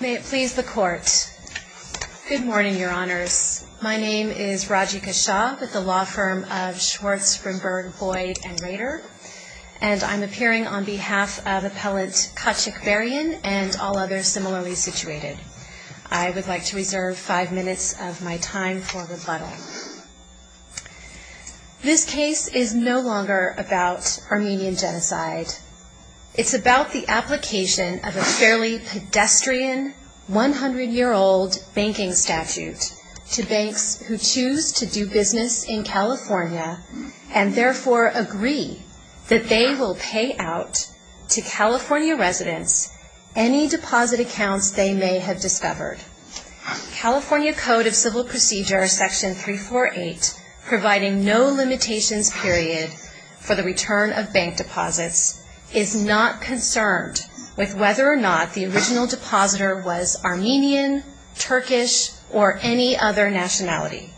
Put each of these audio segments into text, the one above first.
May it please the Court. Good morning, Your Honors. My name is Rajika Shah with the law firm of Schwartz, Grimberg, Boyd, and Rader, and I'm appearing on behalf of Appellant Kacikbarian and all others similarly situated. I would like to reserve five minutes of my time for rebuttal. This case is no longer about Armenian genocide. It's about the application of a fairly pedestrian, 100-year-old banking statute to banks who choose to do business in California and therefore agree that they will pay out to California residents any deposit accounts they may have discovered. California Code of Civil Procedure, Section 348, providing no limitations period for the return of bank deposits, is not concerned with whether or not the original depositor was Armenian, Turkish, or any other nationality.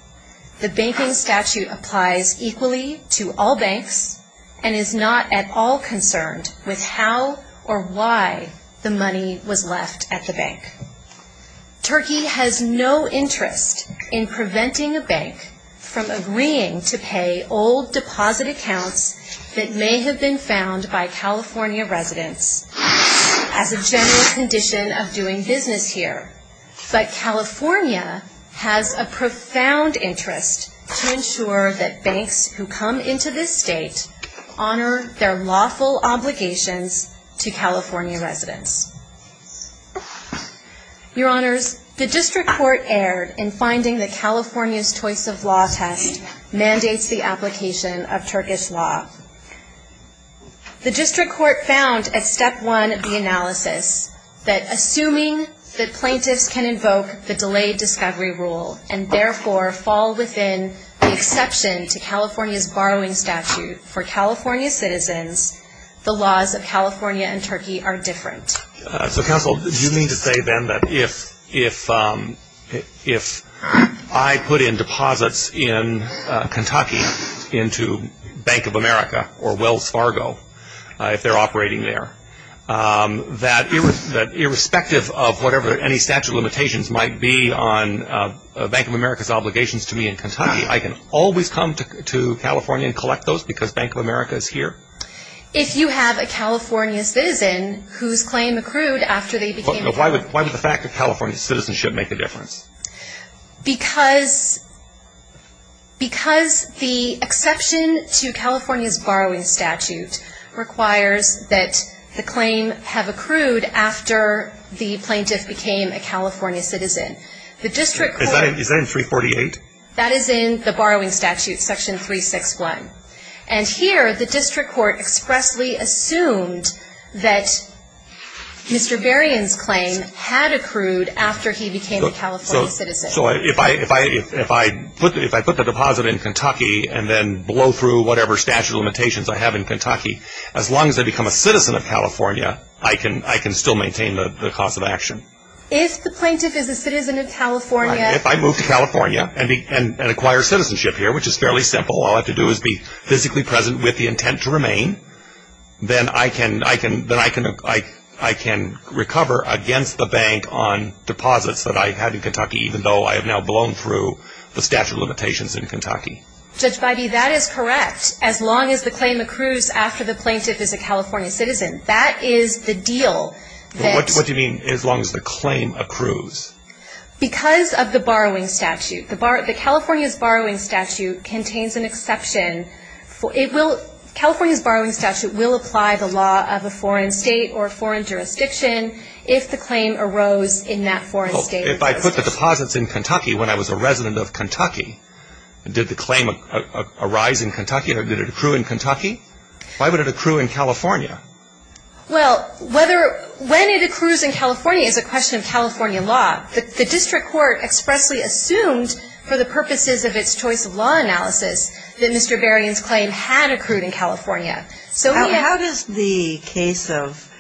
The banking statute applies equally to all banks and is not at all concerned with how or why the money was left at the bank. Turkey has no interest in preventing a bank from agreeing to pay old deposit accounts that may have been found by California residents as a general condition of doing business here, but California has a profound interest to California residents. Your Honors, the District Court erred in finding that California's choice of law test mandates the application of Turkish law. The District Court found at Step 1 of the analysis that assuming that plaintiffs can invoke the delayed discovery rule and therefore fall within the exception to California's borrowing statute for California citizens, the laws of California and Turkey are different. So Counsel, do you mean to say then that if I put in deposits in Kentucky into Bank of America or Wells Fargo, if they're operating there, that irrespective of whatever any statute of limitations might be on Bank of America's obligations to me in Kentucky, I can always come to California and collect those because Bank of America is here? If you have a California citizen whose claim accrued after they became a California citizen. Why would the fact that California citizens should make a difference? Because the exception to California's borrowing statute requires that the claim have accrued after the plaintiff became a California citizen. Is that in 348? That is in the borrowing statute, section 361. And here, the District Court expressly assumed that Mr. Berrien's claim had accrued after he became a California citizen. So if I put the deposit in Kentucky and then blow through whatever statute of limitations I have in Kentucky, as long as I become a citizen of California, I can still maintain the cause of action? If the plaintiff is a citizen of California If I move to California and acquire citizenship here, which is fairly simple, all I have to do is be physically present with the intent to remain, then I can recover against the bank on deposits that I had in Kentucky, even though I have now blown through the statute of limitations in Kentucky. Judge Bybee, that is correct. As long as the claim accrues after the plaintiff is a California citizen. That is the deal. What do you mean, as long as the claim accrues? Because of the borrowing statute. The California's borrowing statute contains an exception. It will, California's borrowing statute will apply the law of a foreign state or foreign jurisdiction if the claim arose in that foreign state. If I put the deposits in Kentucky when I was a resident of Kentucky, did the claim arise in Kentucky or did it accrue in Kentucky? Why would it accrue in California? Well, whether, when it accrues in California is a question of California law. The district court expressly assumed for the purposes of its choice of law analysis that Mr. Berrien's claim had accrued in California. How does the case of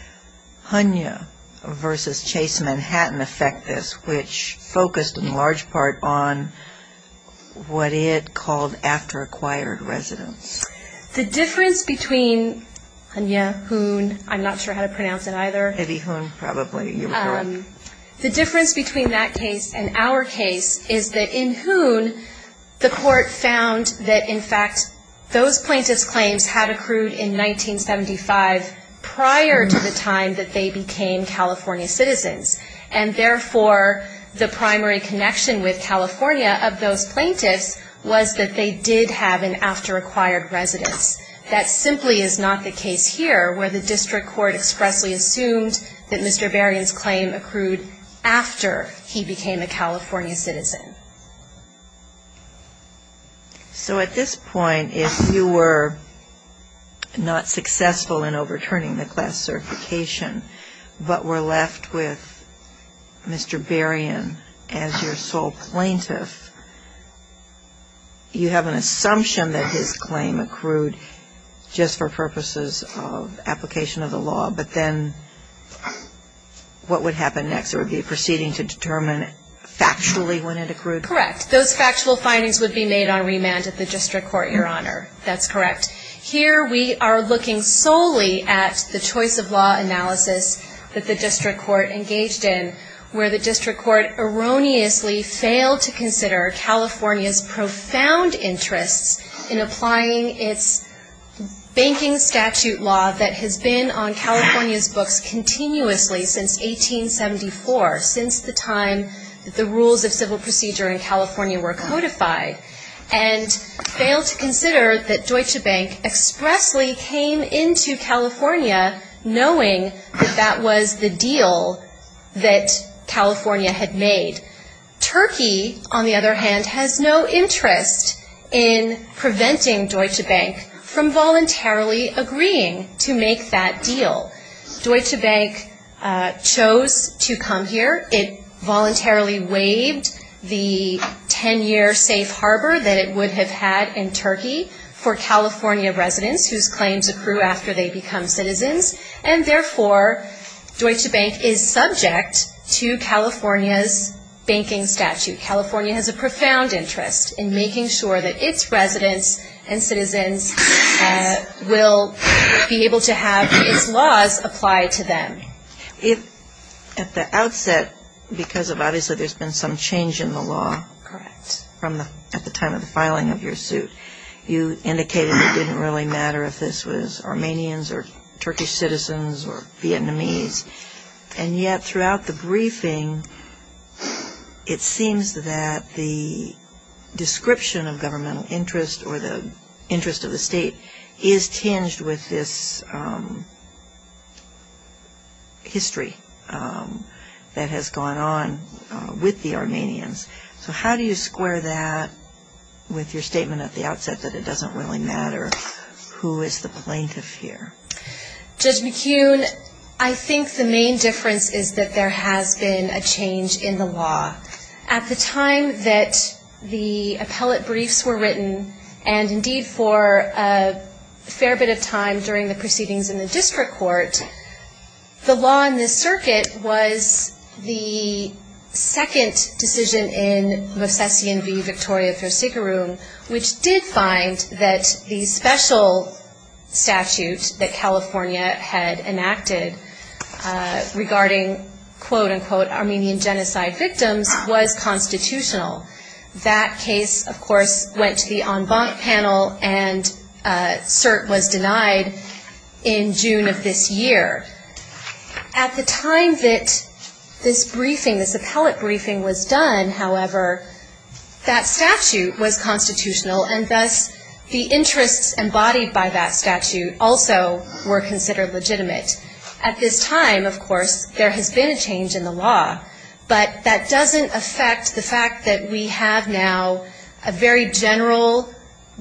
Hunya v. Chase Manhattan affect this, which focused in large part on what it called after-acquired residence? The difference between Hunya, Hoon, I'm not sure how to pronounce it either. Eddie Hoon, probably. The difference between that case and our case is that in Hoon, the court found that in fact those plaintiff's claims had accrued in 1975 prior to the time that they became California citizens. And therefore, the primary connection with California of those plaintiffs was that they did have an after-acquired residence. That simply is not the case here, where the district court expressly assumed that Mr. Berrien's claim accrued after he became a California citizen. So at this point, if you were not successful in overturning the class certification, but were left with Mr. Berrien as your sole plaintiff, you have to make a decision. You have an assumption that his claim accrued just for purposes of application of the law. But then what would happen next? It would be proceeding to determine factually when it accrued? Correct. Those factual findings would be made on remand at the district court, Your Honor. That's correct. Here we are looking solely at the choice of law analysis that the district court engaged in, where the district court erroneously failed to consider California's profound interests in applying its banking statute law that has been on California's books continuously since 1874, since the time that the rules of civil procedure in California were codified, and failed to consider that Deutsche Bank expressly came into California knowing that that was the deal that California had made. Turkey, on the other hand, has no interest in preventing Deutsche Bank from voluntarily agreeing to make that deal. Deutsche Bank chose to come here. It voluntarily waived the 10-year safe harbor that it would have had in Turkey for California residents whose claims accrue after they become citizens. And therefore, Deutsche Bank is subject to banking statute. California has a profound interest in making sure that its residents and citizens will be able to have its laws applied to them. If at the outset, because obviously there's been some change in the law at the time of the filing of your suit, you indicated it didn't really matter if this was Armenians or Turkish citizens or Vietnamese. And yet, throughout the briefing, it seems that the description of governmental interest or the interest of the state is tinged with this history that has gone on with the Armenians. So how do you square that with your statement at the outset that it doesn't really matter who is the plaintiff here? Judge McKeown, I think the main difference is that there has been a change in the law. At the time that the appellate briefs were written, and indeed for a fair bit of time during the proceedings in the district court, the law in this circuit was the second decision in Mosesian v. Victoria v. Sigurum, which did find that the special statute that California had enacted regarding quote-unquote Armenian genocide victims was constitutional. That case, of course, went to the en banc panel and cert was denied in June of this year. At the time that this briefing, this appellate briefing was done, however, that statute was constitutional and thus the interests embodied by that statute also were considered legitimate. At this time, of course, there has been a change in the law, but that doesn't affect the fact that we have now a very general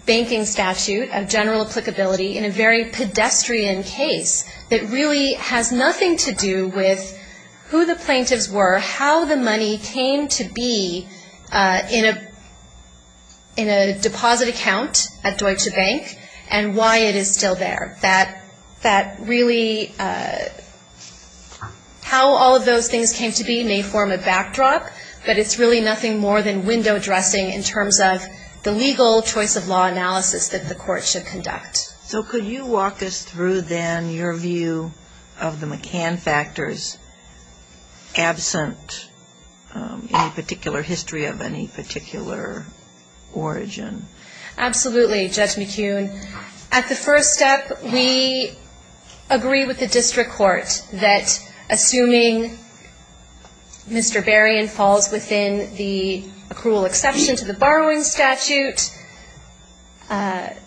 banking statute, a general applicability in a very general way. It has nothing to do with who the plaintiffs were, how the money came to be in a deposit account at Deutsche Bank, and why it is still there. That really, how all of those things came to be may form a backdrop, but it's really nothing more than window dressing in terms of the legal choice of law analysis that the court should conduct. So could you walk us through then your view of the McCann factors absent any particular history of any particular origin? Absolutely, Judge McKeown. At the first step, we agree with the district court that assuming Mr. Barian falls within the accrual exception to the borrowing statute, that he is not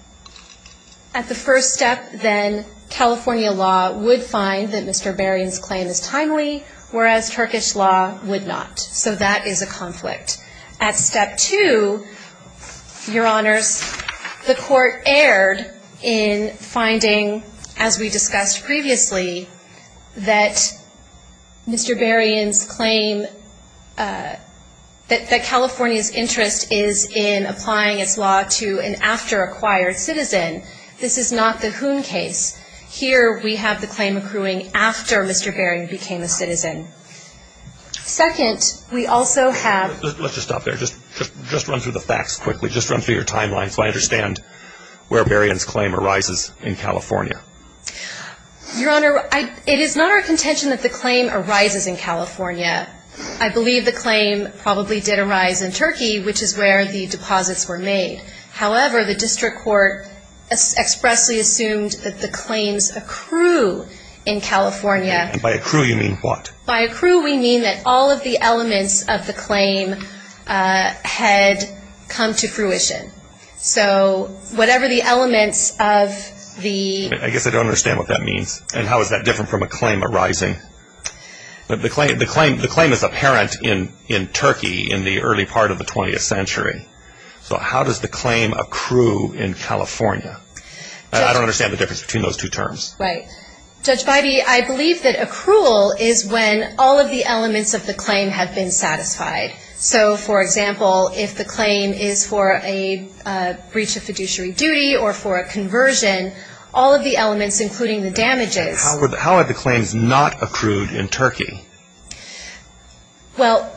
at the first step, then California law would find that Mr. Barian's claim is timely, whereas Turkish law would not. So that is a conflict. At step two, Your Honors, the court erred in finding, as we discussed previously, that Mr. Barian's claim that California's interest is in applying its law to an after-acquired citizen. This is not the Hoon case. Here, we have the claim accruing after Mr. Barian became a citizen. Second, we also have Let's just stop there. Just run through the facts quickly. Just run through your timeline so I understand where Barian's claim arises in California. Your Honor, it is not our contention that the claim arises in California. I believe the claim probably did arise in Turkey, which is where the deposits were made. However, the district court expressly assumed that the claims accrue in California. By accrue, you mean what? By accrue, we mean that all of the elements of the claim had come to fruition. So whatever the elements of the I guess I don't understand what that means. And how is that different from a claim arising? The claim is apparent in Turkey in the early part of the 20th century. So how does the claim accrue in California? I don't understand the difference between those two terms. Right. Judge Bybee, I believe that accrual is when all of the elements of the claim have been satisfied. So, for example, if the claim is for a breach of fiduciary duty or for a conversion, all of the elements, including the damages How are the claims not accrued in Turkey? Well,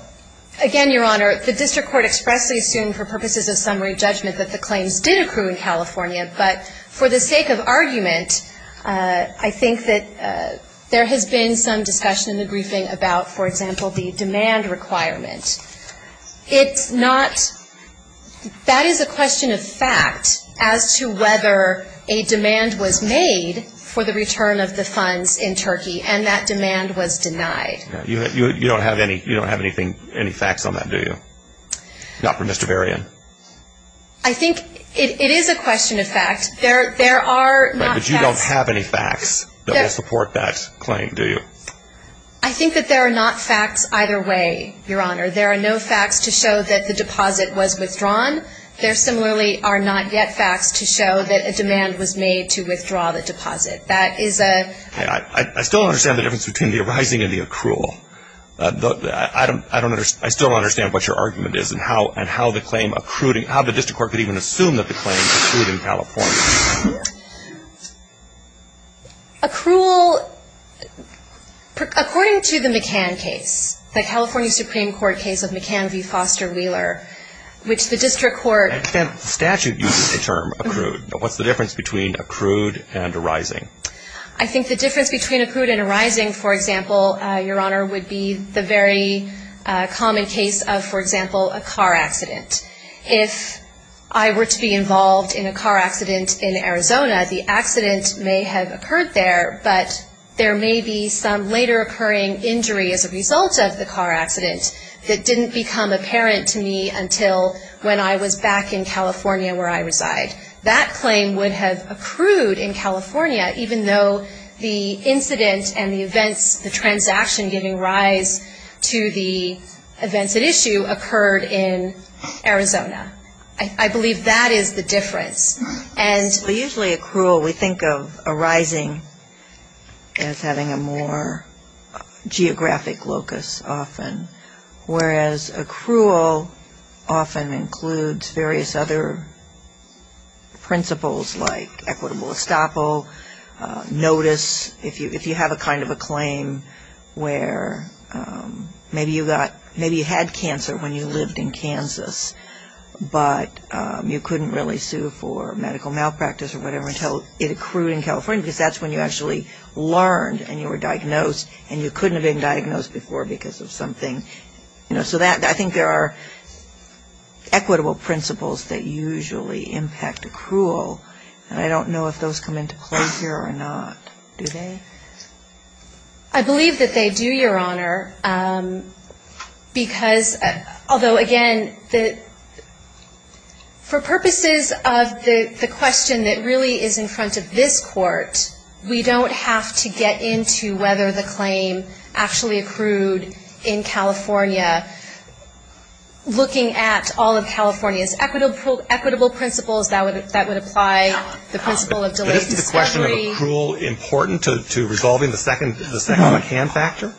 again, Your Honor, the district court expressly assumed for purposes of summary judgment that the claims did accrue in California. But for the sake of argument, I think that there has been some discussion in the briefing about, for example, the demand requirement. It's not That is a question of fact as to whether a demand was made for the return of the fact funds in Turkey, and that demand was denied. You don't have any facts on that, do you? Not from Mr. Varian. I think it is a question of fact. There are not facts But you don't have any facts that will support that claim, do you? I think that there are not facts either way, Your Honor. There are no facts to show that the deposit was withdrawn. There similarly are not yet facts to show that a demand was I still don't understand the difference between the arising and the accrual. I still don't understand what your argument is and how the claim accrued, how the district court could even assume that the claim accrued in California. Accrual, according to the McCann case, the California Supreme Court case of McCann v. Foster Wheeler, which the district court The statute uses the term accrued. What's the difference between accrued and arising? I think the difference between accrued and arising, for example, Your Honor, would be the very common case of, for example, a car accident. If I were to be involved in a car accident in Arizona, the accident may have occurred there, but there may be some later occurring injury as a result of the car accident that didn't become apparent to me until when I was back in California where I reside. That claim would have accrued in California even though the incident and the events, the transaction giving rise to the events at issue occurred in Arizona. I believe that is the difference. Usually accrual we think of arising as having a more geographic locus often, whereas accrual often includes various other principles like equitable estoppel, notice. If you have a kind of a claim where maybe you had cancer when you lived in Kansas, but you couldn't really sue for medical malpractice or whatever until it accrued in California because that's when you actually learned and you were diagnosed and you couldn't have been diagnosed before because of something, you know, so I think there are equitable principles that usually impact accrual, and I don't know if those come into play here or not. Do they? I believe that they do, Your Honor, because, although again, for purposes of the question that really is in front of this Court, we don't have to get into whether the claim actually accrued in California. Looking at all of California's equitable principles, that would apply the principle of delaying the schedule. Is the question of accrual important to resolving the second hand factor?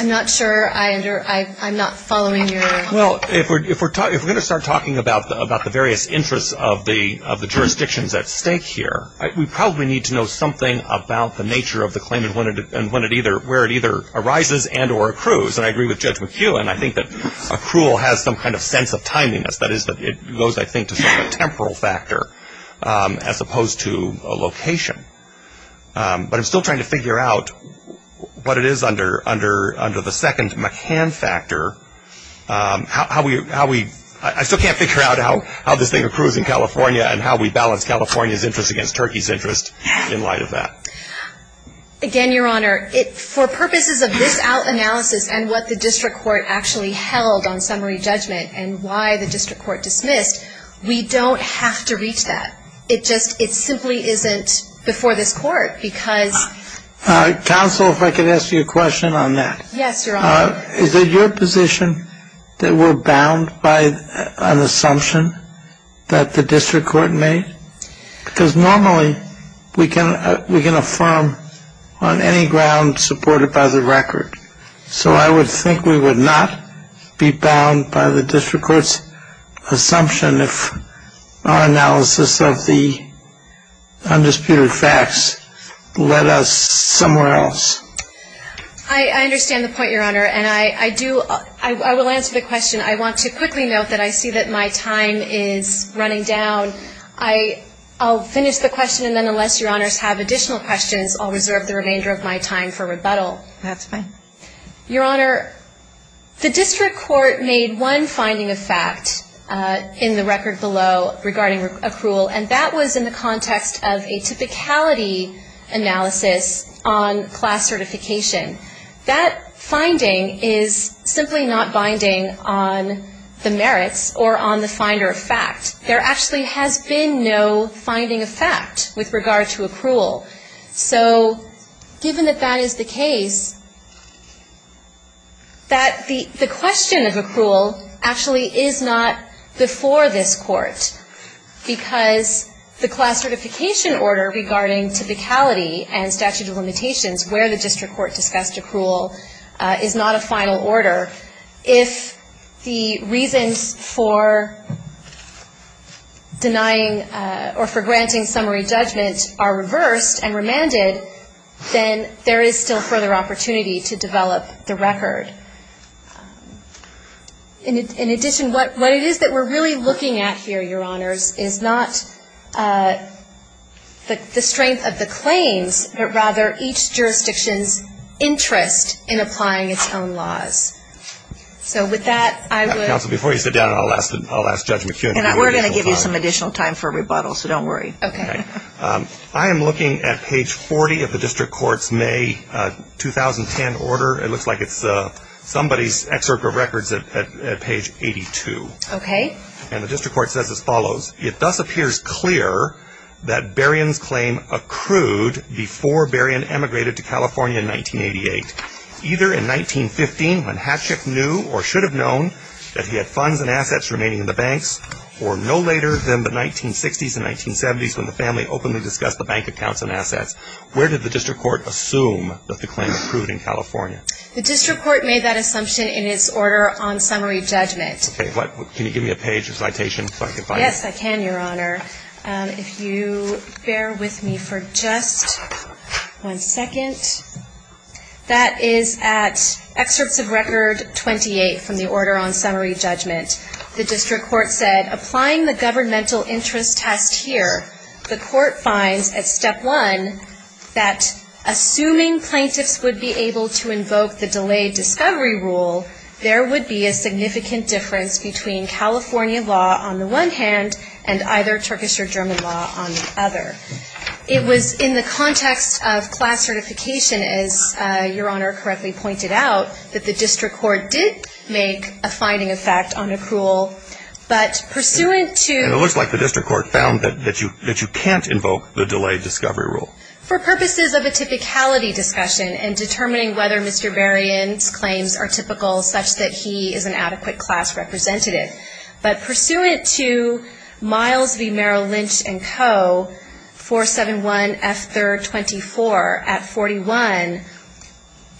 I'm not sure. I'm not following Your Honor. Well, if we're going to start talking about the various interests of the jurisdictions at stake here, we probably need to know something about the nature of the claim and where it either arises and or accrues, and I agree with Judge McHugh, and I think that accrual has some kind of sense of timeliness. That is, it goes, I think, to some temporal factor as opposed to a location, but I'm still trying to figure out what it is under the second McCann factor, how we, I still can't figure out how this thing accrues in California and how we balance California's interest against Turkey's interest in light of that. Again, Your Honor, for purposes of this analysis and what the District Court actually held on summary judgment and why the District Court dismissed, we don't have to reach that. It just, it simply isn't before this Court, because... Counsel, if I could ask you a question on that. Yes, Your Honor. Is it your position that we're bound by an assumption that the District Court made? Because normally we can affirm on any ground supported by the record, so I would think we would not be bound by the District Court's assumption if our analysis of the undisputed facts led us somewhere else. I understand the point, Your Honor, and I do, I will answer the question. I want to quickly note that I see that my time is running down. I'll finish the question and then unless Your Honors have additional questions, I'll reserve the remainder of my time for rebuttal. That's fine. Your Honor, the District Court made one finding of fact in the record below regarding accrual, and that was in the context of a typicality analysis on class certification. That finding is simply not binding on the merits or on the finder of fact. There actually has been no finding of fact with regard to accrual. So given that that is the case, that the question of accrual actually is not before this Court, because the class certification order regarding typicality and statute of limitations where the District Court discussed accrual is not a final order, if the reasons for denying or for granting summary judgment are reversed and remanded, then there is still further opportunity to develop the record. In addition, what it is that we're really looking at here, Your Honors, is not the strength of the claims, but rather each jurisdiction's interest in applying its own laws. So with that I would Counsel, before you sit down, I'll ask Judge McHugh an additional question. We're going to give you some additional time for rebuttal, so don't worry. Okay. I am looking at page 40 of the District Court's May 2010 order. It looks like it's somebody's excerpt of records at page 82. Okay. And the District Court says as follows, it thus appears clear that Berrien's claim accrued before Berrien emigrated to California in 1988, either in 1915 when Hatchick knew or should have known that he had funds and assets remaining in the banks, or no later than the family openly discussed the bank accounts and assets. Where did the District Court assume that the claim accrued in California? The District Court made that assumption in its order on summary judgment. Okay. Can you give me a page or citation so I can find it? Yes, I can, Your Honor. If you bear with me for just one second. That is at excerpts of record 28 from the order on summary judgment. The District Court said, applying the governmental interest test here, the Court finds at step one that assuming plaintiffs would be able to invoke the delayed discovery rule, there would be a significant difference between California law on the one hand and either Turkish or German law on the other. It was in the context of class certification, as Your Honor correctly pointed out, that the District Court did make a finding of fact on accrual. But pursuant to And it looks like the District Court found that you can't invoke the delayed discovery rule. For purposes of a typicality discussion in determining whether Mr. Berrien's claims are typical such that he is an adequate class representative. But pursuant to Miles v. Merrill Lynch and Co. 471F324 at 41,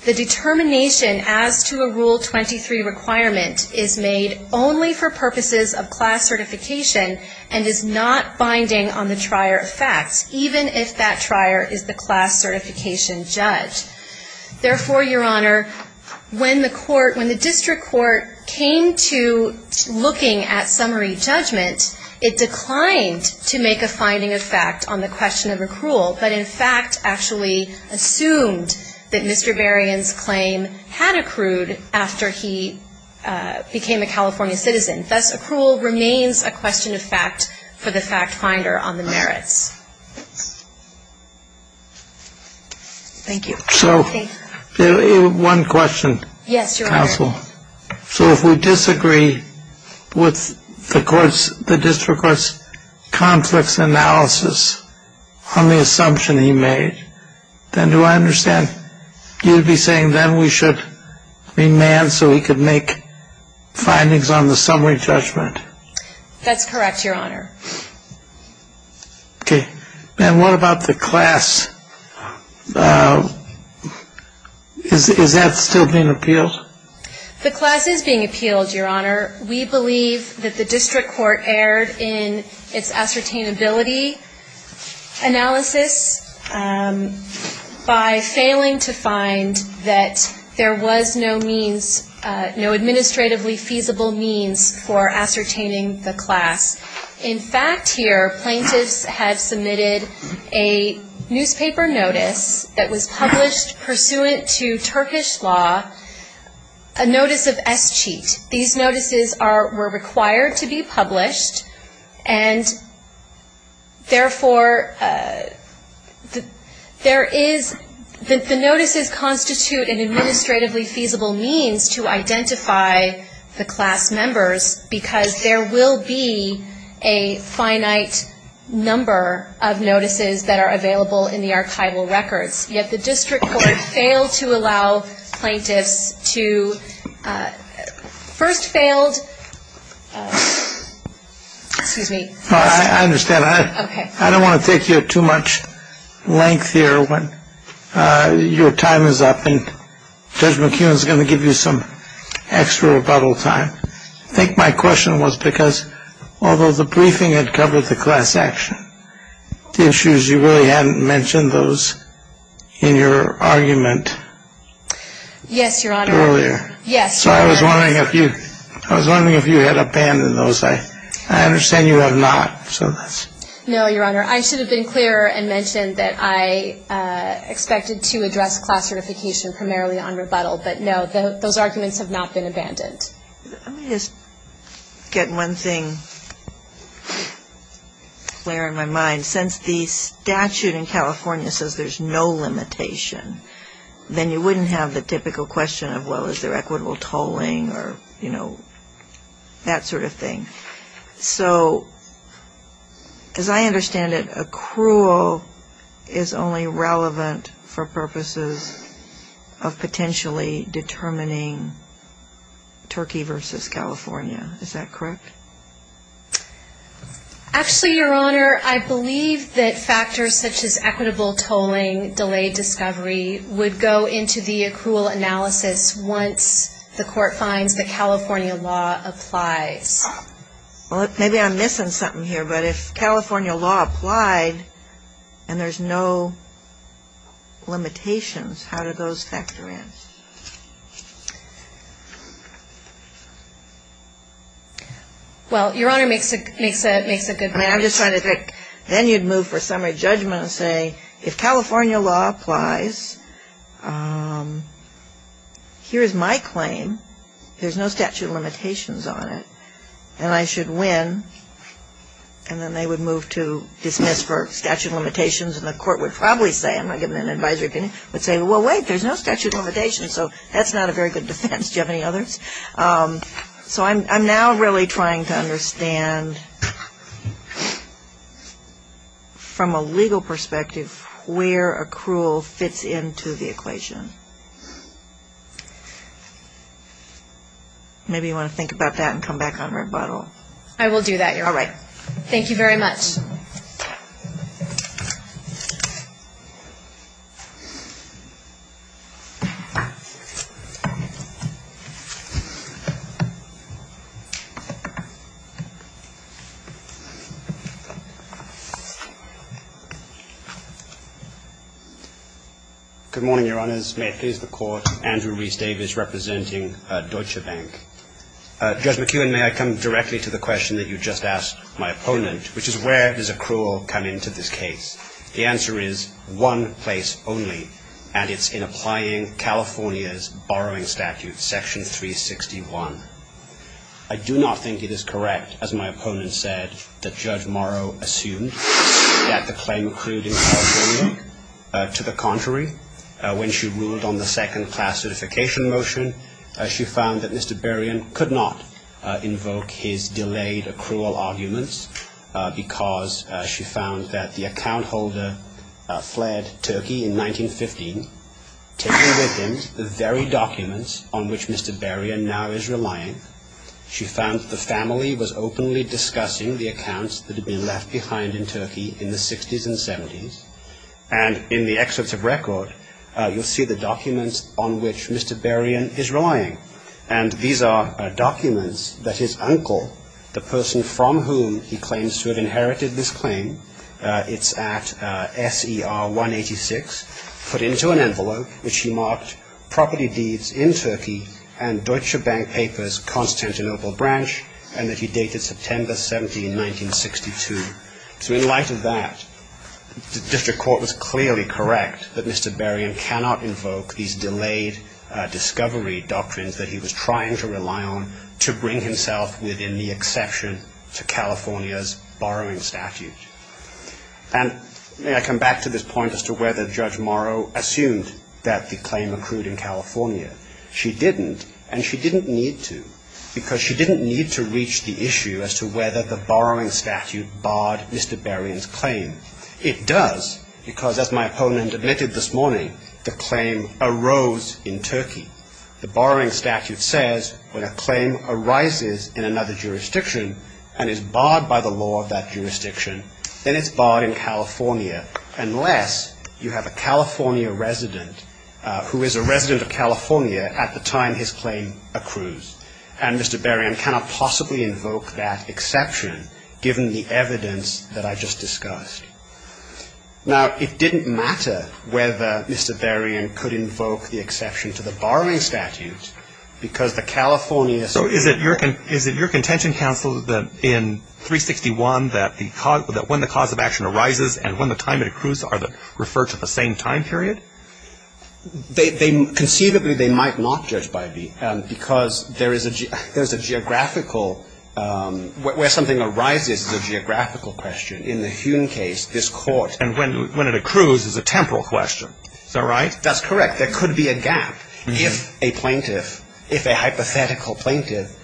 the determination as to a Rule 23 requirement is made only for class certification and is not binding on the trier of facts, even if that trier is the class certification judge. Therefore, Your Honor, when the court, when the District Court came to looking at summary judgment, it declined to make a finding of fact on the question of accrual, but in fact actually assumed that Mr. Berrien's claim had accrued after he became a California citizen. Thus, accrual remains a question of fact for the fact finder on the merits. Thank you. So, one question, counsel. Yes, Your Honor. So if we disagree with the court's, the District Court's conflicts analysis on the assumption he made, then do I understand, you'd be saying then we should remand so he could make findings on the summary judgment? That's correct, Your Honor. Okay. And what about the class? Is that still being appealed? The class is being appealed, Your Honor. We believe that the District Court erred in its ascertainability analysis by failing to find that there was no means, no administratively feasible means for ascertaining the class. In fact, here, plaintiffs have submitted a newspaper notice that was published pursuant to Turkish law, a notice of escheat. These notices are, were required to be published, and therefore, there is, the notices constitute an administratively feasible means to identify the class members because there will be a finite number of notices that are available in the archival records. Yet, the District Court failed to allow plaintiffs to, first failed, excuse me. I understand. I don't want to take you at too much length here. Your time is up, and Judge McKeown is going to give you some extra rebuttal time. I think my question was because, although the briefing had covered the class action, the issues, you really hadn't mentioned those in your argument earlier. Yes, Your Honor. So I was wondering if you had abandoned those. I understand you have not. No, Your Honor. I should have been clearer and mentioned that I expected to address class certification primarily on rebuttal, but no, those arguments have not been abandoned. Let me just get one thing clear in my mind. Since the statute in California says there's no limitation, then you wouldn't have the typical question of, well, is there equitable tolling or, you know, that sort of thing. So, as I understand it, accrual is only relevant for purposes of potentially determining Turkey versus California. Is that correct? Actually, Your Honor, I believe that factors such as equitable tolling, delayed discovery would go into the accrual analysis once the court finds that California law applies. Well, maybe I'm missing something here, but if California law applied and there's no limitations, how do those factor in? Well, Your Honor, it makes a good point. I mean, I'm just trying to think. Then you'd move for summary judgment and say, if California law applies, here is my claim. There's no statute of limitations on it. But if California law applies and I should win, and then they would move to dismiss for statute of limitations and the court would probably say, I'm not giving an advisory opinion, would say, well, wait, there's no statute of limitations, so that's not a very good defense. Do you have any others? So I'm now really trying to understand from a legal perspective where accrual fits into the equation. Maybe you want to think about that and come back on rebuttal. I will do that, Your Honor. Thank you very much. Judge McEwen, may I come directly to the question that you just asked my opponent, which is where does accrual come into this case? The answer is one place only, and it's in applying California's borrowing statute, section 361. I do not think it is correct, as my opponent said, that Judge Morrow assumed that the claim accrued in California. To the contrary, when she ruled on the second class certification motion, she found that Mr. Berrien could not invoke his delayed accrual arguments because she found that the account holder fled Turkey in 1915, taking with him the very documents on which Mr. Berrien now is relying. She found that the family was openly discussing the accounts that had been left behind in Turkey in the 60s and 70s, and in the excerpts of record, you'll see the documents on which Mr. Berrien is relying. And these are documents that his uncle, the person from whom he claims to have inherited this claim, it's at SER 186, put into an envelope which he marked property deeds in Turkey and Deutsche Bank papers, Constantinople branch, and that he dated September 17, 1962. So in light of that, the district court was clearly correct that Mr. Berrien cannot invoke these delayed discovery doctrines that he was trying to rely on to bring himself within the exception to California's borrowing statute. And may I come back to this point as to whether Judge Morrow assumed that the claim accrued in California. She didn't, and she didn't need to, because she didn't need to reach the issue as to whether the borrowing statute barred Mr. Berrien's claim. It does, because as my opponent admitted this morning, the claim arose in Turkey. The borrowing statute says when a claim arises in another jurisdiction and is barred by the law of that jurisdiction, then it's barred in California, unless you have a California resident who is a resident of California at the time his claim accrues. And Mr. Berrien cannot possibly invoke that exception, given the evidence that I just discussed. Now, it didn't matter whether Mr. Berrien could invoke the exception to the borrowing statute, because the California statute So is it your contention, counsel, that in 361, that when the cause of action arises and when the time it accrues are referred to the same time period? They conceivably, they might not, Judge Bybee, because there is a geographical, where something arises is a geographical question. In the Hume case, this court And when it accrues is a temporal question. Is that right? That's correct. There could be a gap if a plaintiff, if a hypothetical plaintiff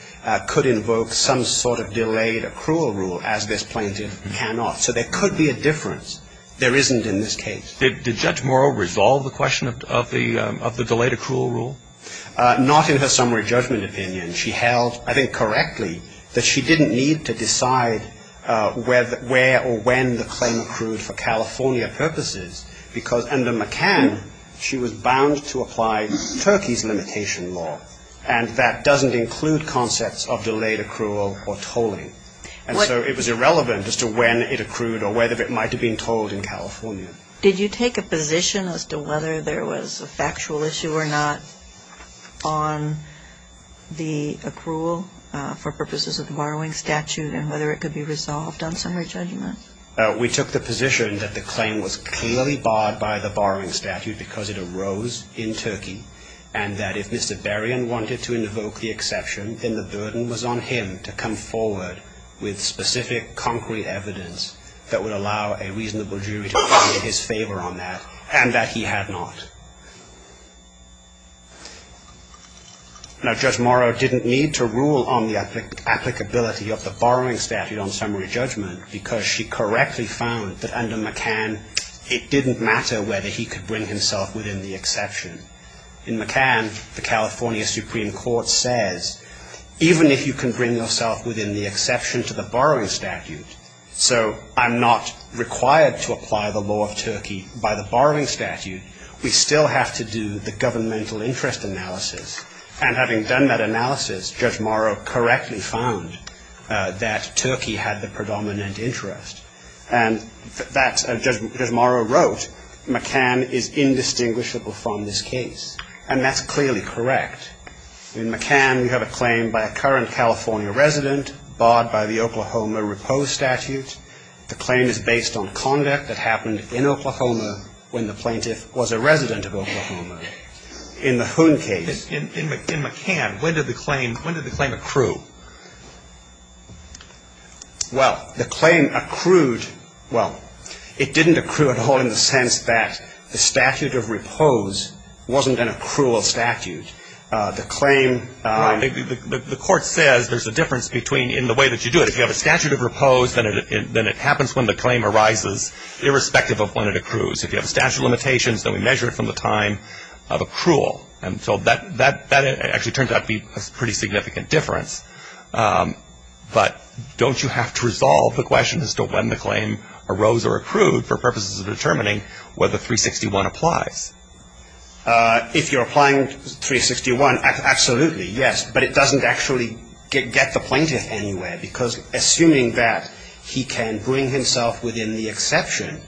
could invoke some sort of delayed accrual rule, as this plaintiff cannot. So there could be a difference. There isn't in this case. Did Judge Morrow resolve the question of the delayed accrual rule? Not in her summary judgment opinion. She held, I think correctly, that she didn't need to decide where or when the claim accrued for California purposes, because under McCann, she was bound to apply Turkey's limitation law. And that doesn't include concepts of delayed accrual or tolling. And so it was irrelevant as to when it accrued or whether it might have been tolled in California. Did you take a position as to whether there was a factual issue or not on the accrual for purposes of the borrowing statute and whether it could be resolved on summary judgment? We took the position that the claim was clearly barred by the borrowing statute because it arose in Turkey, and that if Mr. Barian wanted to invoke the exception, then the burden was on him to come forward with specific concrete evidence that would allow a reasonable jury to appear in his favor on that, and that he had not. Now, Judge Morrow didn't need to rule on the applicability of the borrowing statute on summary judgment, because she correctly found that under McCann, it didn't matter whether he could bring himself within the exception. In McCann, the California Supreme Court says, even if you can bring yourself within the exception to the borrowing statute, so I'm not required to apply the law of Turkey by the borrowing statute, we still have to do the governmental interest analysis. And having done that analysis, Judge Morrow correctly found that Turkey had the predominant interest. And that, Judge Morrow wrote, McCann is indistinguishable from this case. And that's clearly correct. In McCann, you have a claim by a current California resident barred by the Oklahoma repose statute. The claim is based on conduct that happened in Oklahoma when the plaintiff was a resident of Oklahoma in the Hoon case. In McCann, when did the claim accrue? Well, the claim accrued – well, it didn't accrue at all in the sense that the statute of repose wasn't an accrual statute. The claim – Well, the Court says there's a difference between – in the way that you do it. If you have a statute of repose, then it happens when the claim arises, irrespective of when it accrues. If you have a statute of limitations, then we measure it from the time of accrual. And so that actually turns out to be a pretty significant difference. But don't you have to resolve the question as to when the claim arose or accrued for purposes of determining whether 361 applies? If you're applying 361, absolutely, yes, but it doesn't actually get the plaintiff anywhere because assuming that he can bring himself within the exception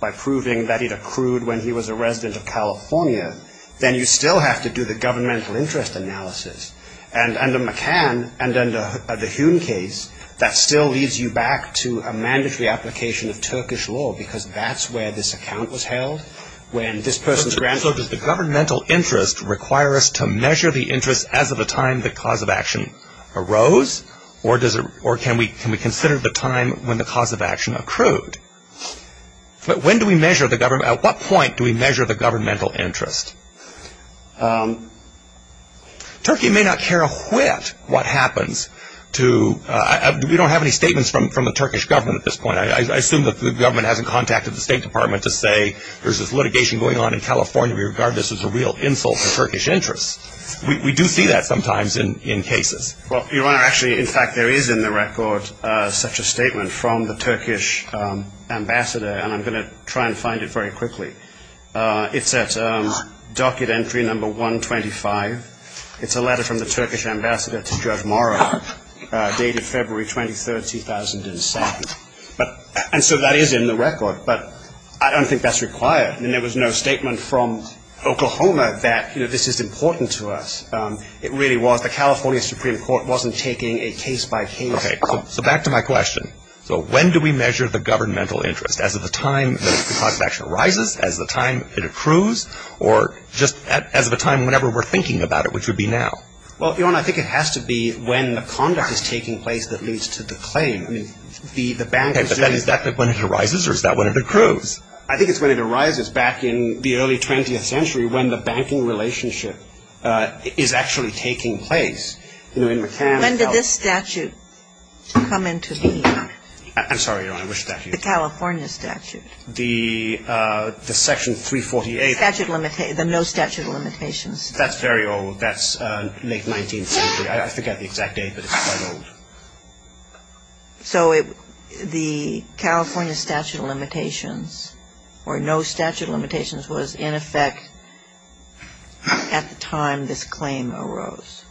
by proving that it accrued when he was a resident of California, then you still have to do the governmental interest analysis. And under McCann and under the Hoon case, that still leads you back to a mandatory application of Turkish law because that's where this account was held, when this person's grandson – So does the governmental interest require us to measure the interest as of the time the cause of action arose? Or can we consider the time when the cause of action accrued? But when do we measure the – at what point do we measure the governmental interest? Turkey may not care a whit what happens to – we don't have any statements from the Turkish government at this point. I assume that the government hasn't contacted the State Department to say there's this litigation going on in California. We regard this as a real insult to Turkish interests. We do see that sometimes in cases. Well, Your Honor, actually, in fact, there is in the record such a statement from the Turkish ambassador and I'm going to try and find it very quickly. It's at docket entry number 125. It's a letter from the Turkish ambassador to Judge Morrow dated February 23, 2007. And so that is in the record. But I don't think that's required. I mean, there was no statement from Oklahoma that, you know, this is important to us. It really was. The California Supreme Court wasn't taking a case-by-case. Okay. So back to my question. So when do we measure the governmental interest? As of the time that the cause of action arises? As of the time it accrues? Or just as of a time whenever we're thinking about it, which would be now? Well, Your Honor, I think it has to be when the conduct is taking place that leads to the claim. I mean, the bank is doing – Okay. But is that when it arises or is that when it accrues? I think it's when it arises back in the early 20th century when the banking relationship is actually taking place. When did this statute come into being? I'm sorry, Your Honor. Which statute? The California statute. The section 348. The statute – the no statute of limitations. That's very old. That's late 19th century. I forget the exact date, but it's quite old. So the California statute of limitations or no statute of limitations was in effect at the time this claim arose?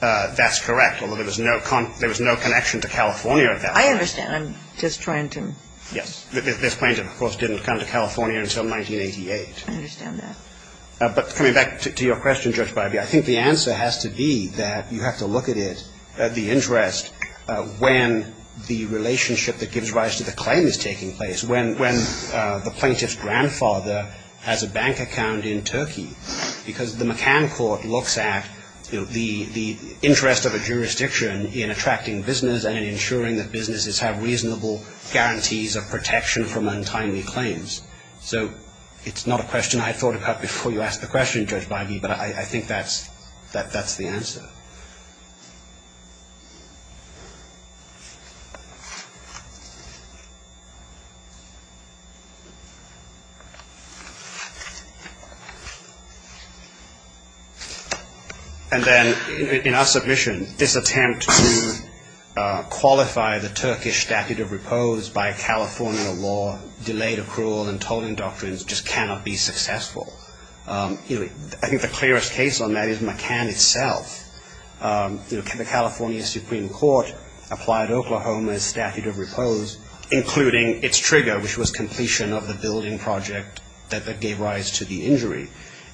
That's correct, although there was no connection to California at that point. I understand. I'm just trying to – Yes. This plaintiff, of course, didn't come to California until 1988. I understand that. But coming back to your question, Judge Bybee, I think the answer has to be that you have to look at it, at the interest when the relationship that gives rise to the claim is taking place, when the plaintiff's grandfather has a bank account in Turkey, because the McCann court looks at the interest of a jurisdiction in attracting business and in ensuring that businesses have reasonable guarantees of protection from untimely claims. So it's not a question I thought about before you asked the question, Judge Bybee, but I think that's the answer. And then in our submission, this attempt to qualify the Turkish statute of repose by California law delayed accrual and tolling doctrines just cannot be successful. I think the clearest case on that is McCann itself. The California Supreme Court applied Oklahoma's statute of repose, including its trigger, which was completion of the building project that gave rise to the injury.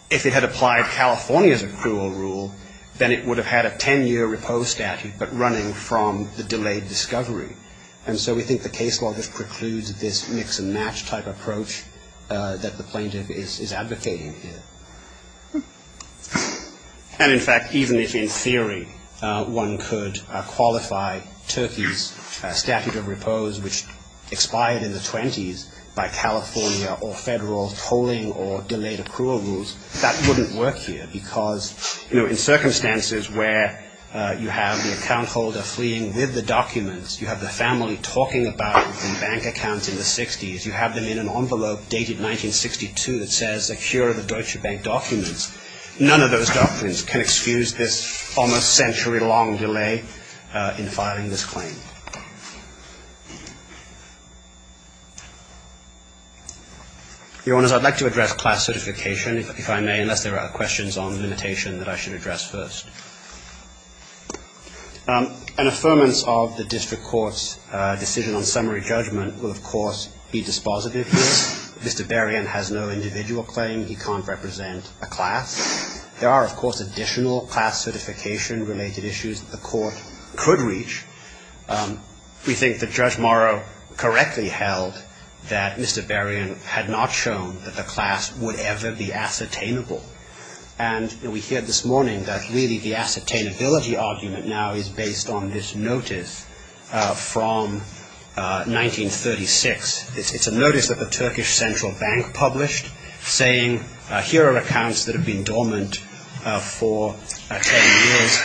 If it had applied California's accrual rule, then it would have had a ten-year repose statute, but running from the delayed discovery. And so we think the case law just precludes this mix-and-match type approach that the plaintiff is advocating here. And, in fact, even if in theory one could qualify Turkey's statute of repose, which expired in the 20s by California or federal tolling or delayed accrual rules, that wouldn't work here because, you know, in circumstances where you have the account holder fleeing with the documents, you have the family talking about the bank accounts in the 60s, you have them in an envelope dated 1962 that says, like, here are the Deutsche Bank documents, none of those documents can excuse this almost century-long delay in filing this claim. Your Honors, I'd like to address class certification, if I may, unless there are questions on limitation that I should address first. An affirmance of the district court's decision on summary judgment will, of course, be dispositive here. Mr. Barian has no individual claim. He can't represent a class. There are, of course, additional class certification-related issues that the court could reach. We think that Judge Morrow correctly held that Mr. Barian had not shown that the class would ever be ascertainable. And we heard this morning that really the ascertainability argument now is based on this notice from 1936. It's a notice that the Turkish Central Bank published saying, here are accounts that have been dormant for 10 years,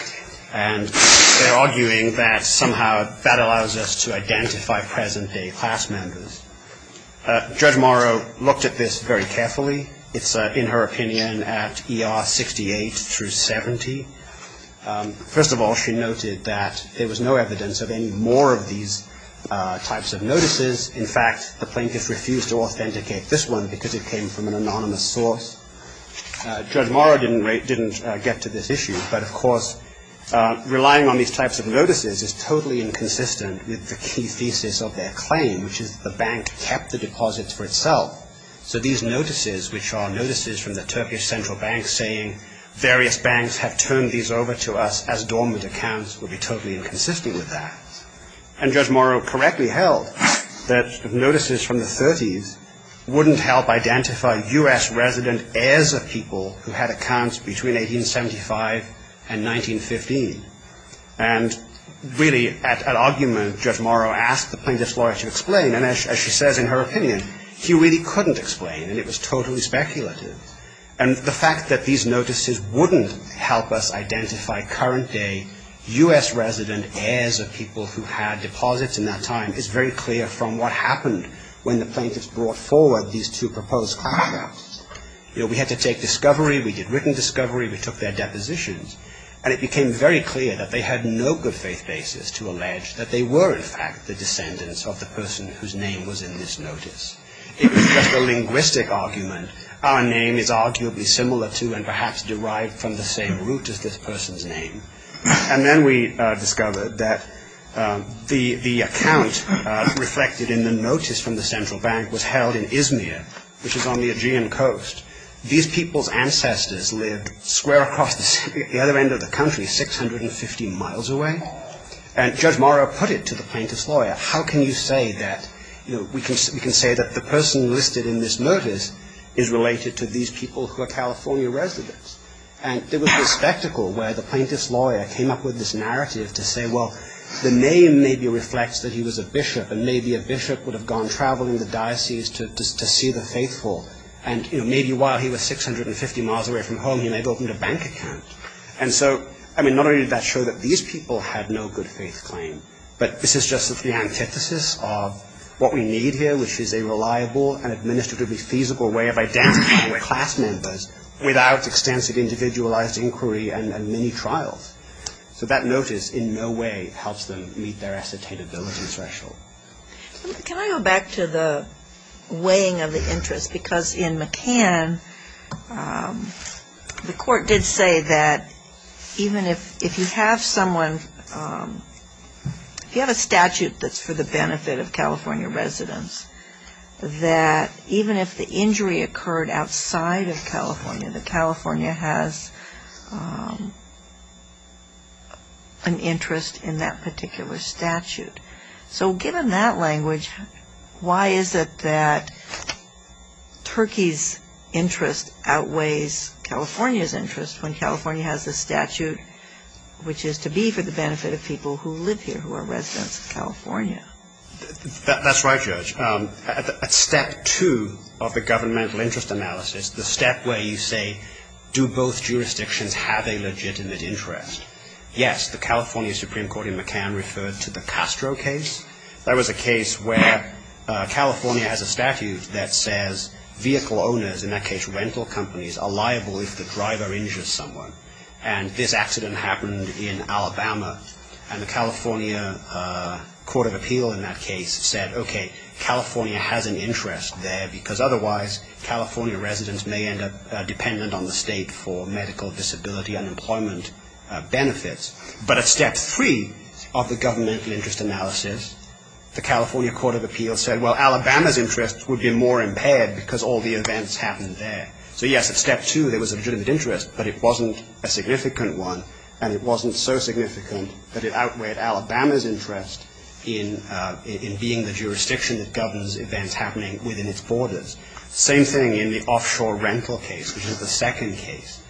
and they're arguing that somehow that allows us to identify present-day class members. Judge Morrow looked at this very carefully. It's, in her opinion, at ER 68 through 70. First of all, she noted that there was no evidence of any more of these types of notices. In fact, the plaintiffs refused to authenticate this one because it came from an anonymous source. Judge Morrow didn't get to this issue. But, of course, relying on these types of notices is totally inconsistent with the key thesis of their claim, which is the bank kept the deposits for itself. So these notices, which are notices from the Turkish Central Bank saying, various banks have turned these over to us as dormant accounts, would be totally inconsistent with that. And Judge Morrow correctly held that notices from the 30s wouldn't help identify U.S. resident heirs of people who had accounts between 1875 and 1915. And, really, at argument, Judge Morrow asked the plaintiff's lawyer to explain, and as she says in her opinion, she really couldn't explain, and it was totally speculative. And the fact that these notices wouldn't help us identify current-day U.S. resident heirs of people who had deposits in that time is very clear from what happened when the plaintiffs brought forward these two proposed claims. You know, we had to take discovery. We did written discovery. We took their depositions. And it became very clear that they had no good faith basis to allege that they were, in fact, the descendants of the person whose name was in this notice. It was just a linguistic argument. Our name is arguably similar to and perhaps derived from the same root as this person's name. And then we discovered that the account reflected in the notice from the Central Bank was held in Izmir, which is on the Aegean coast. These people's ancestors lived square across the other end of the country, 650 miles away. How can you say that we can say that the person listed in this notice is related to these people who are California residents? And there was a spectacle where the plaintiff's lawyer came up with this narrative to say, well, the name maybe reflects that he was a bishop, and maybe a bishop would have gone traveling the diocese to see the faithful. And maybe while he was 650 miles away from home, he may have opened a bank account. And so, I mean, not only did that show that these people had no good faith claim, but this is just the antithesis of what we need here, which is a reliable and administratively feasible way of identifying class members without extensive individualized inquiry and many trials. So that notice in no way helps them meet their ascertainability threshold. Can I go back to the weighing of the interest? Because in McCann, the court did say that even if you have someone, if you have a statute that's for the benefit of California residents, that even if the injury occurred outside of California, that California has an interest in that particular statute. So given that language, why is it that Turkey's interest outweighs California's interest when California has a statute which is to be for the benefit of people who live here, who are residents of California? That's right, Judge. At step two of the governmental interest analysis, the step where you say, do both jurisdictions have a legitimate interest, yes, the California Supreme Court in McCann referred to the Castro case. That was a case where California has a statute that says vehicle owners, in that case rental companies, are liable if the driver injures someone. And this accident happened in Alabama, and the California Court of Appeal in that case said, okay, California has an interest there, because otherwise California residents may end up dependent on the state for medical disability unemployment benefits. But at step three of the governmental interest analysis, the California Court of Appeal said, well, Alabama's interest would be more impaired because all the events happened there. So, yes, at step two there was a legitimate interest, but it wasn't a significant one, and it wasn't so significant that it outweighed Alabama's interest in being the jurisdiction that governs events happening within its borders. Same thing in the offshore rental case, which is the second case.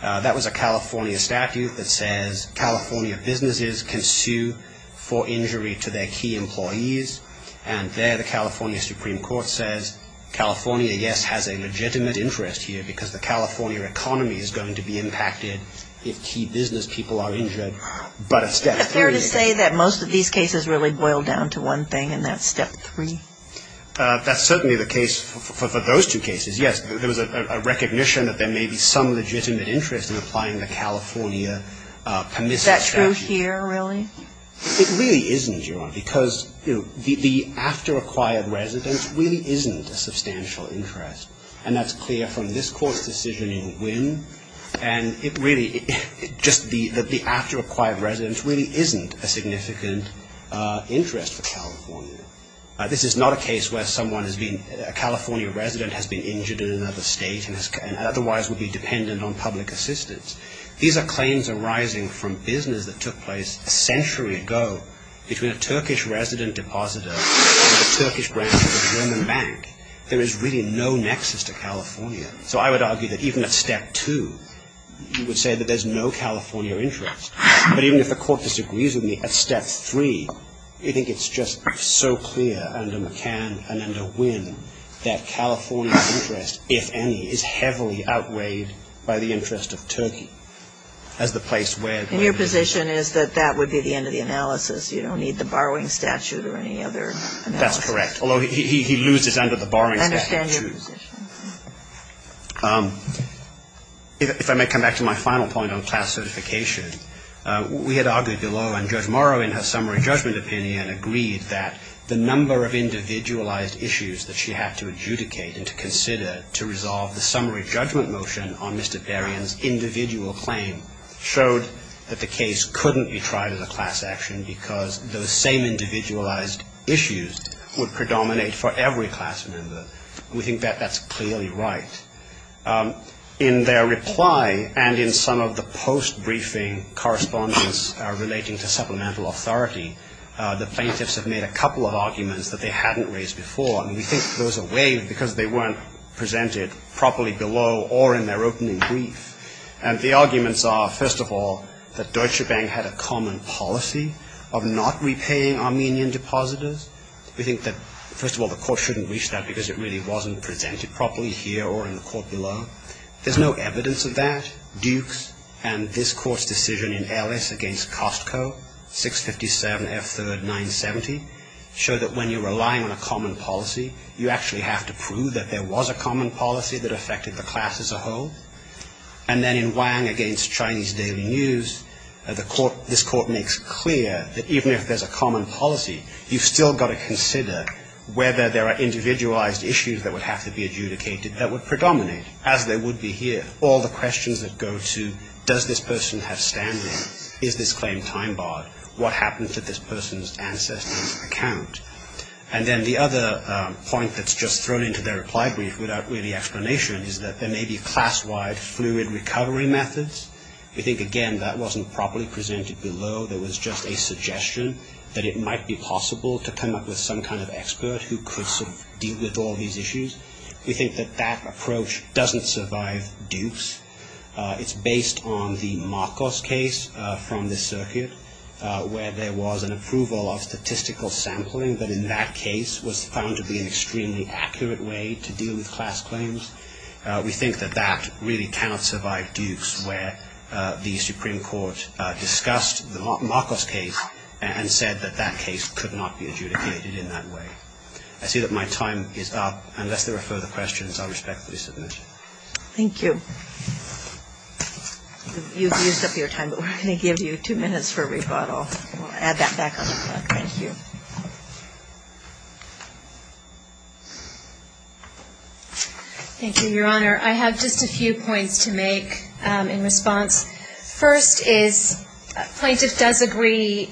That was a California statute that says, California businesses can sue for injury to their key employees, and there the California Supreme Court says, California, yes, has a legitimate interest here, because the California economy is going to be impacted if key business people are injured. But at step three... Is it fair to say that most of these cases really boil down to one thing, and that's step three? That's certainly the case for those two cases, yes. There was a recognition that there may be some legitimate interest in applying the California permissive statute. Is that true here, really? It really isn't, Your Honor, because, you know, the after-acquired residence really isn't a substantial interest. And that's clear from this Court's decision in Wynn. And it really, just the after-acquired residence really isn't a significant interest for California. This is not a case where someone has been, a California resident has been injured in another state and otherwise would be dependent on public assistance. These are claims arising from business that took place a century ago between a Turkish resident depositor and a Turkish branch of a German bank. There is really no nexus to California. So I would argue that even at step two, you would say that there's no California interest. But even if the Court disagrees with me, at step three, I think it's just so clear under McCann and under Wynn that California's interest, if any, is heavily outweighed by the interest of Turkey as the place where. And your position is that that would be the end of the analysis. You don't need the borrowing statute or any other analysis. That's correct. Although he loses under the borrowing statute. I understand your position. If I may come back to my final point on class certification, we had argued below and Judge Morrow in her summary judgment opinion agreed that the number of individualized issues that she had to adjudicate and to consider to resolve the summary judgment motion on Mr. Darien's individual claim showed that the case couldn't be tried as a class action because those same individualized issues would predominate for every class member. We think that that's clearly right. In their reply and in some of the post-briefing correspondence relating to supplemental authority, the plaintiffs have made a couple of arguments that they hadn't raised before. And we think those are waived because they weren't presented properly below or in their opening brief. And the arguments are, first of all, that Deutsche Bank had a common policy of not repaying Armenian depositors. We think that, first of all, the Court shouldn't reach that because it really wasn't presented properly here or in the Court below. There's no evidence of that. Duke's and this Court's decision in Ellis against Costco, 657 F3rd 970, showed that when you're relying on a common policy, you actually have to prove that there was a common policy that affected the class as a whole. And then in Wang against Chinese Daily News, this Court makes clear that even if there's a common policy, you've still got to consider whether there are individualized issues that would have to be adjudicated that would predominate, as they would be here. All the questions that go to, does this person have standing? Is this claim time-barred? What happened to this person's ancestor's account? And then the other point that's just thrown into their reply brief without really explanation is that there may be class-wide fluid recovery methods. We think, again, that wasn't properly presented below. There was just a suggestion that it might be possible to come up with some kind of expert who could deal with all these issues. We think that that approach doesn't survive Duke's. It's based on the Marcos case from this circuit, where there was an approval of statistical sampling that in that case was found to be an extremely accurate way to deal with class claims. We think that that really cannot survive Duke's, where the Supreme Court discussed the Marcos case and said that that case could not be adjudicated in that way. I see that my time is up. Unless there are further questions, I respectfully submit. Thank you. You've used up your time, but we're going to give you two minutes for a rebuttal. We'll add that back on the clock. Thank you. Thank you, Your Honor. I have just a few points to make in response. First is a plaintiff does agree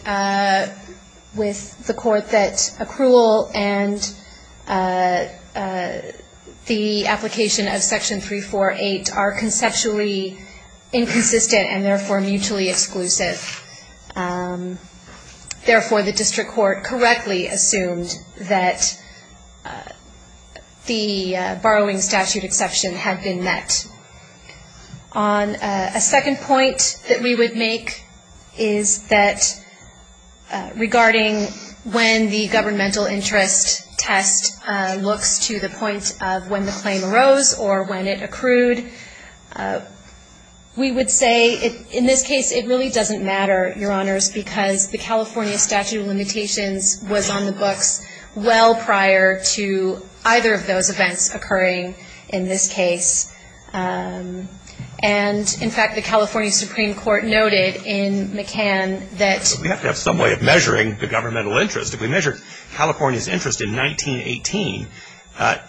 with the court that accrual and the application of Section 348 are conceptually inconsistent and therefore mutually exclusive. Therefore, the district court correctly assumed that the borrowing statute exception had been met. A second point that we would make is that regarding when the governmental interest test looks to the point of when the claim arose or when it accrued, we would say in this case it really doesn't matter, Your Honors, because the California statute of limitations was on the books well prior to either of those events occurring in this case. And, in fact, the California Supreme Court noted in McCann that we have to have some way of measuring the governmental interest. If we measure California's interest in 1918,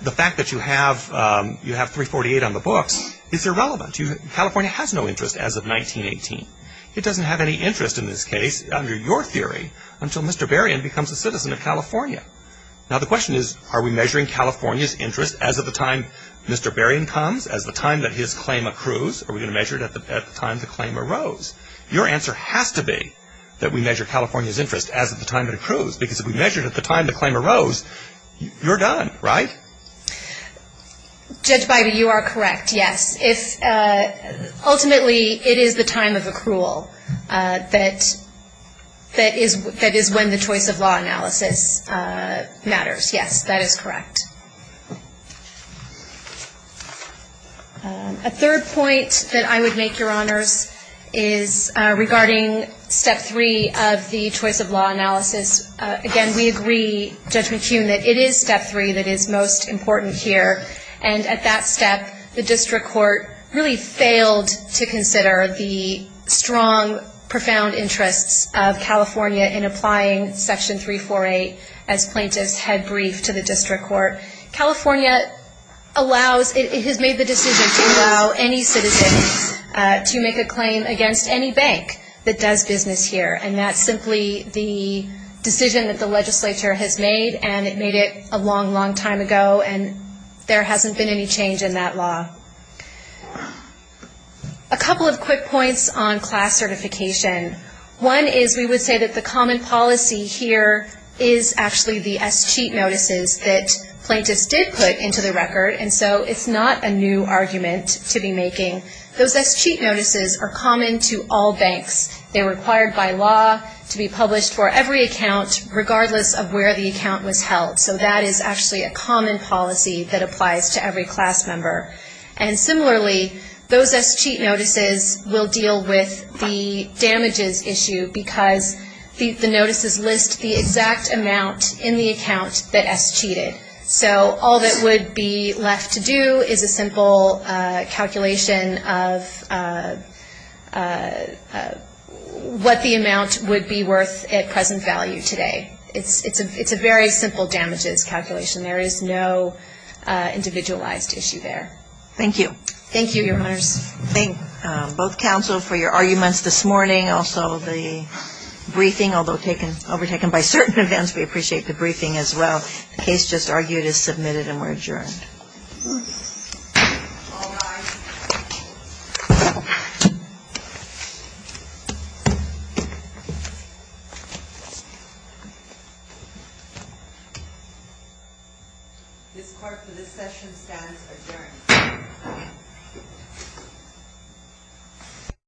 the fact that you have 348 on the books is irrelevant. California has no interest as of 1918. It doesn't have any interest in this case, under your theory, until Mr. Berrien becomes a citizen of California. Now, the question is are we measuring California's interest as of the time Mr. Berrien comes, as the time that his claim accrues? Are we going to measure it at the time the claim arose? Your answer has to be that we measure California's interest as of the time it accrues, because if we measure it at the time the claim arose, you're done, right? Judge Beide, you are correct, yes. Ultimately, it is the time of accrual that is when the choice of law analysis matters, yes. That is correct. A third point that I would make, Your Honors, is regarding Step 3 of the choice of law analysis. Again, we agree, Judge McCune, that it is Step 3 that is most important here, and at that step the district court really failed to consider the strong, profound interests of California in applying Section 348 as plaintiff's head brief to the district court. California has made the decision to allow any citizen to make a claim against any bank that does business here, and that's simply the decision that the legislature has made, and it made it a long, long time ago, and there hasn't been any change in that law. A couple of quick points on class certification. One is we would say that the common policy here is actually the escheat notices that plaintiffs did put into the record, and so it's not a new argument to be making. Those escheat notices are common to all banks. They're required by law to be published for every account, regardless of where the account was held. So that is actually a common policy that applies to every class member. And similarly, those escheat notices will deal with the damages issue, because the notices list the exact amount in the account that escheated. So all that would be left to do is a simple calculation of what the amount would be worth at present value today. It's a very simple damages calculation. There is no individualized issue there. Thank you. Thank you, Your Honors. Thank both counsel for your arguments this morning. Also the briefing, although overtaken by certain events, we appreciate the briefing as well. The case just argued is submitted and we're adjourned. All rise. This court for this session stands adjourned.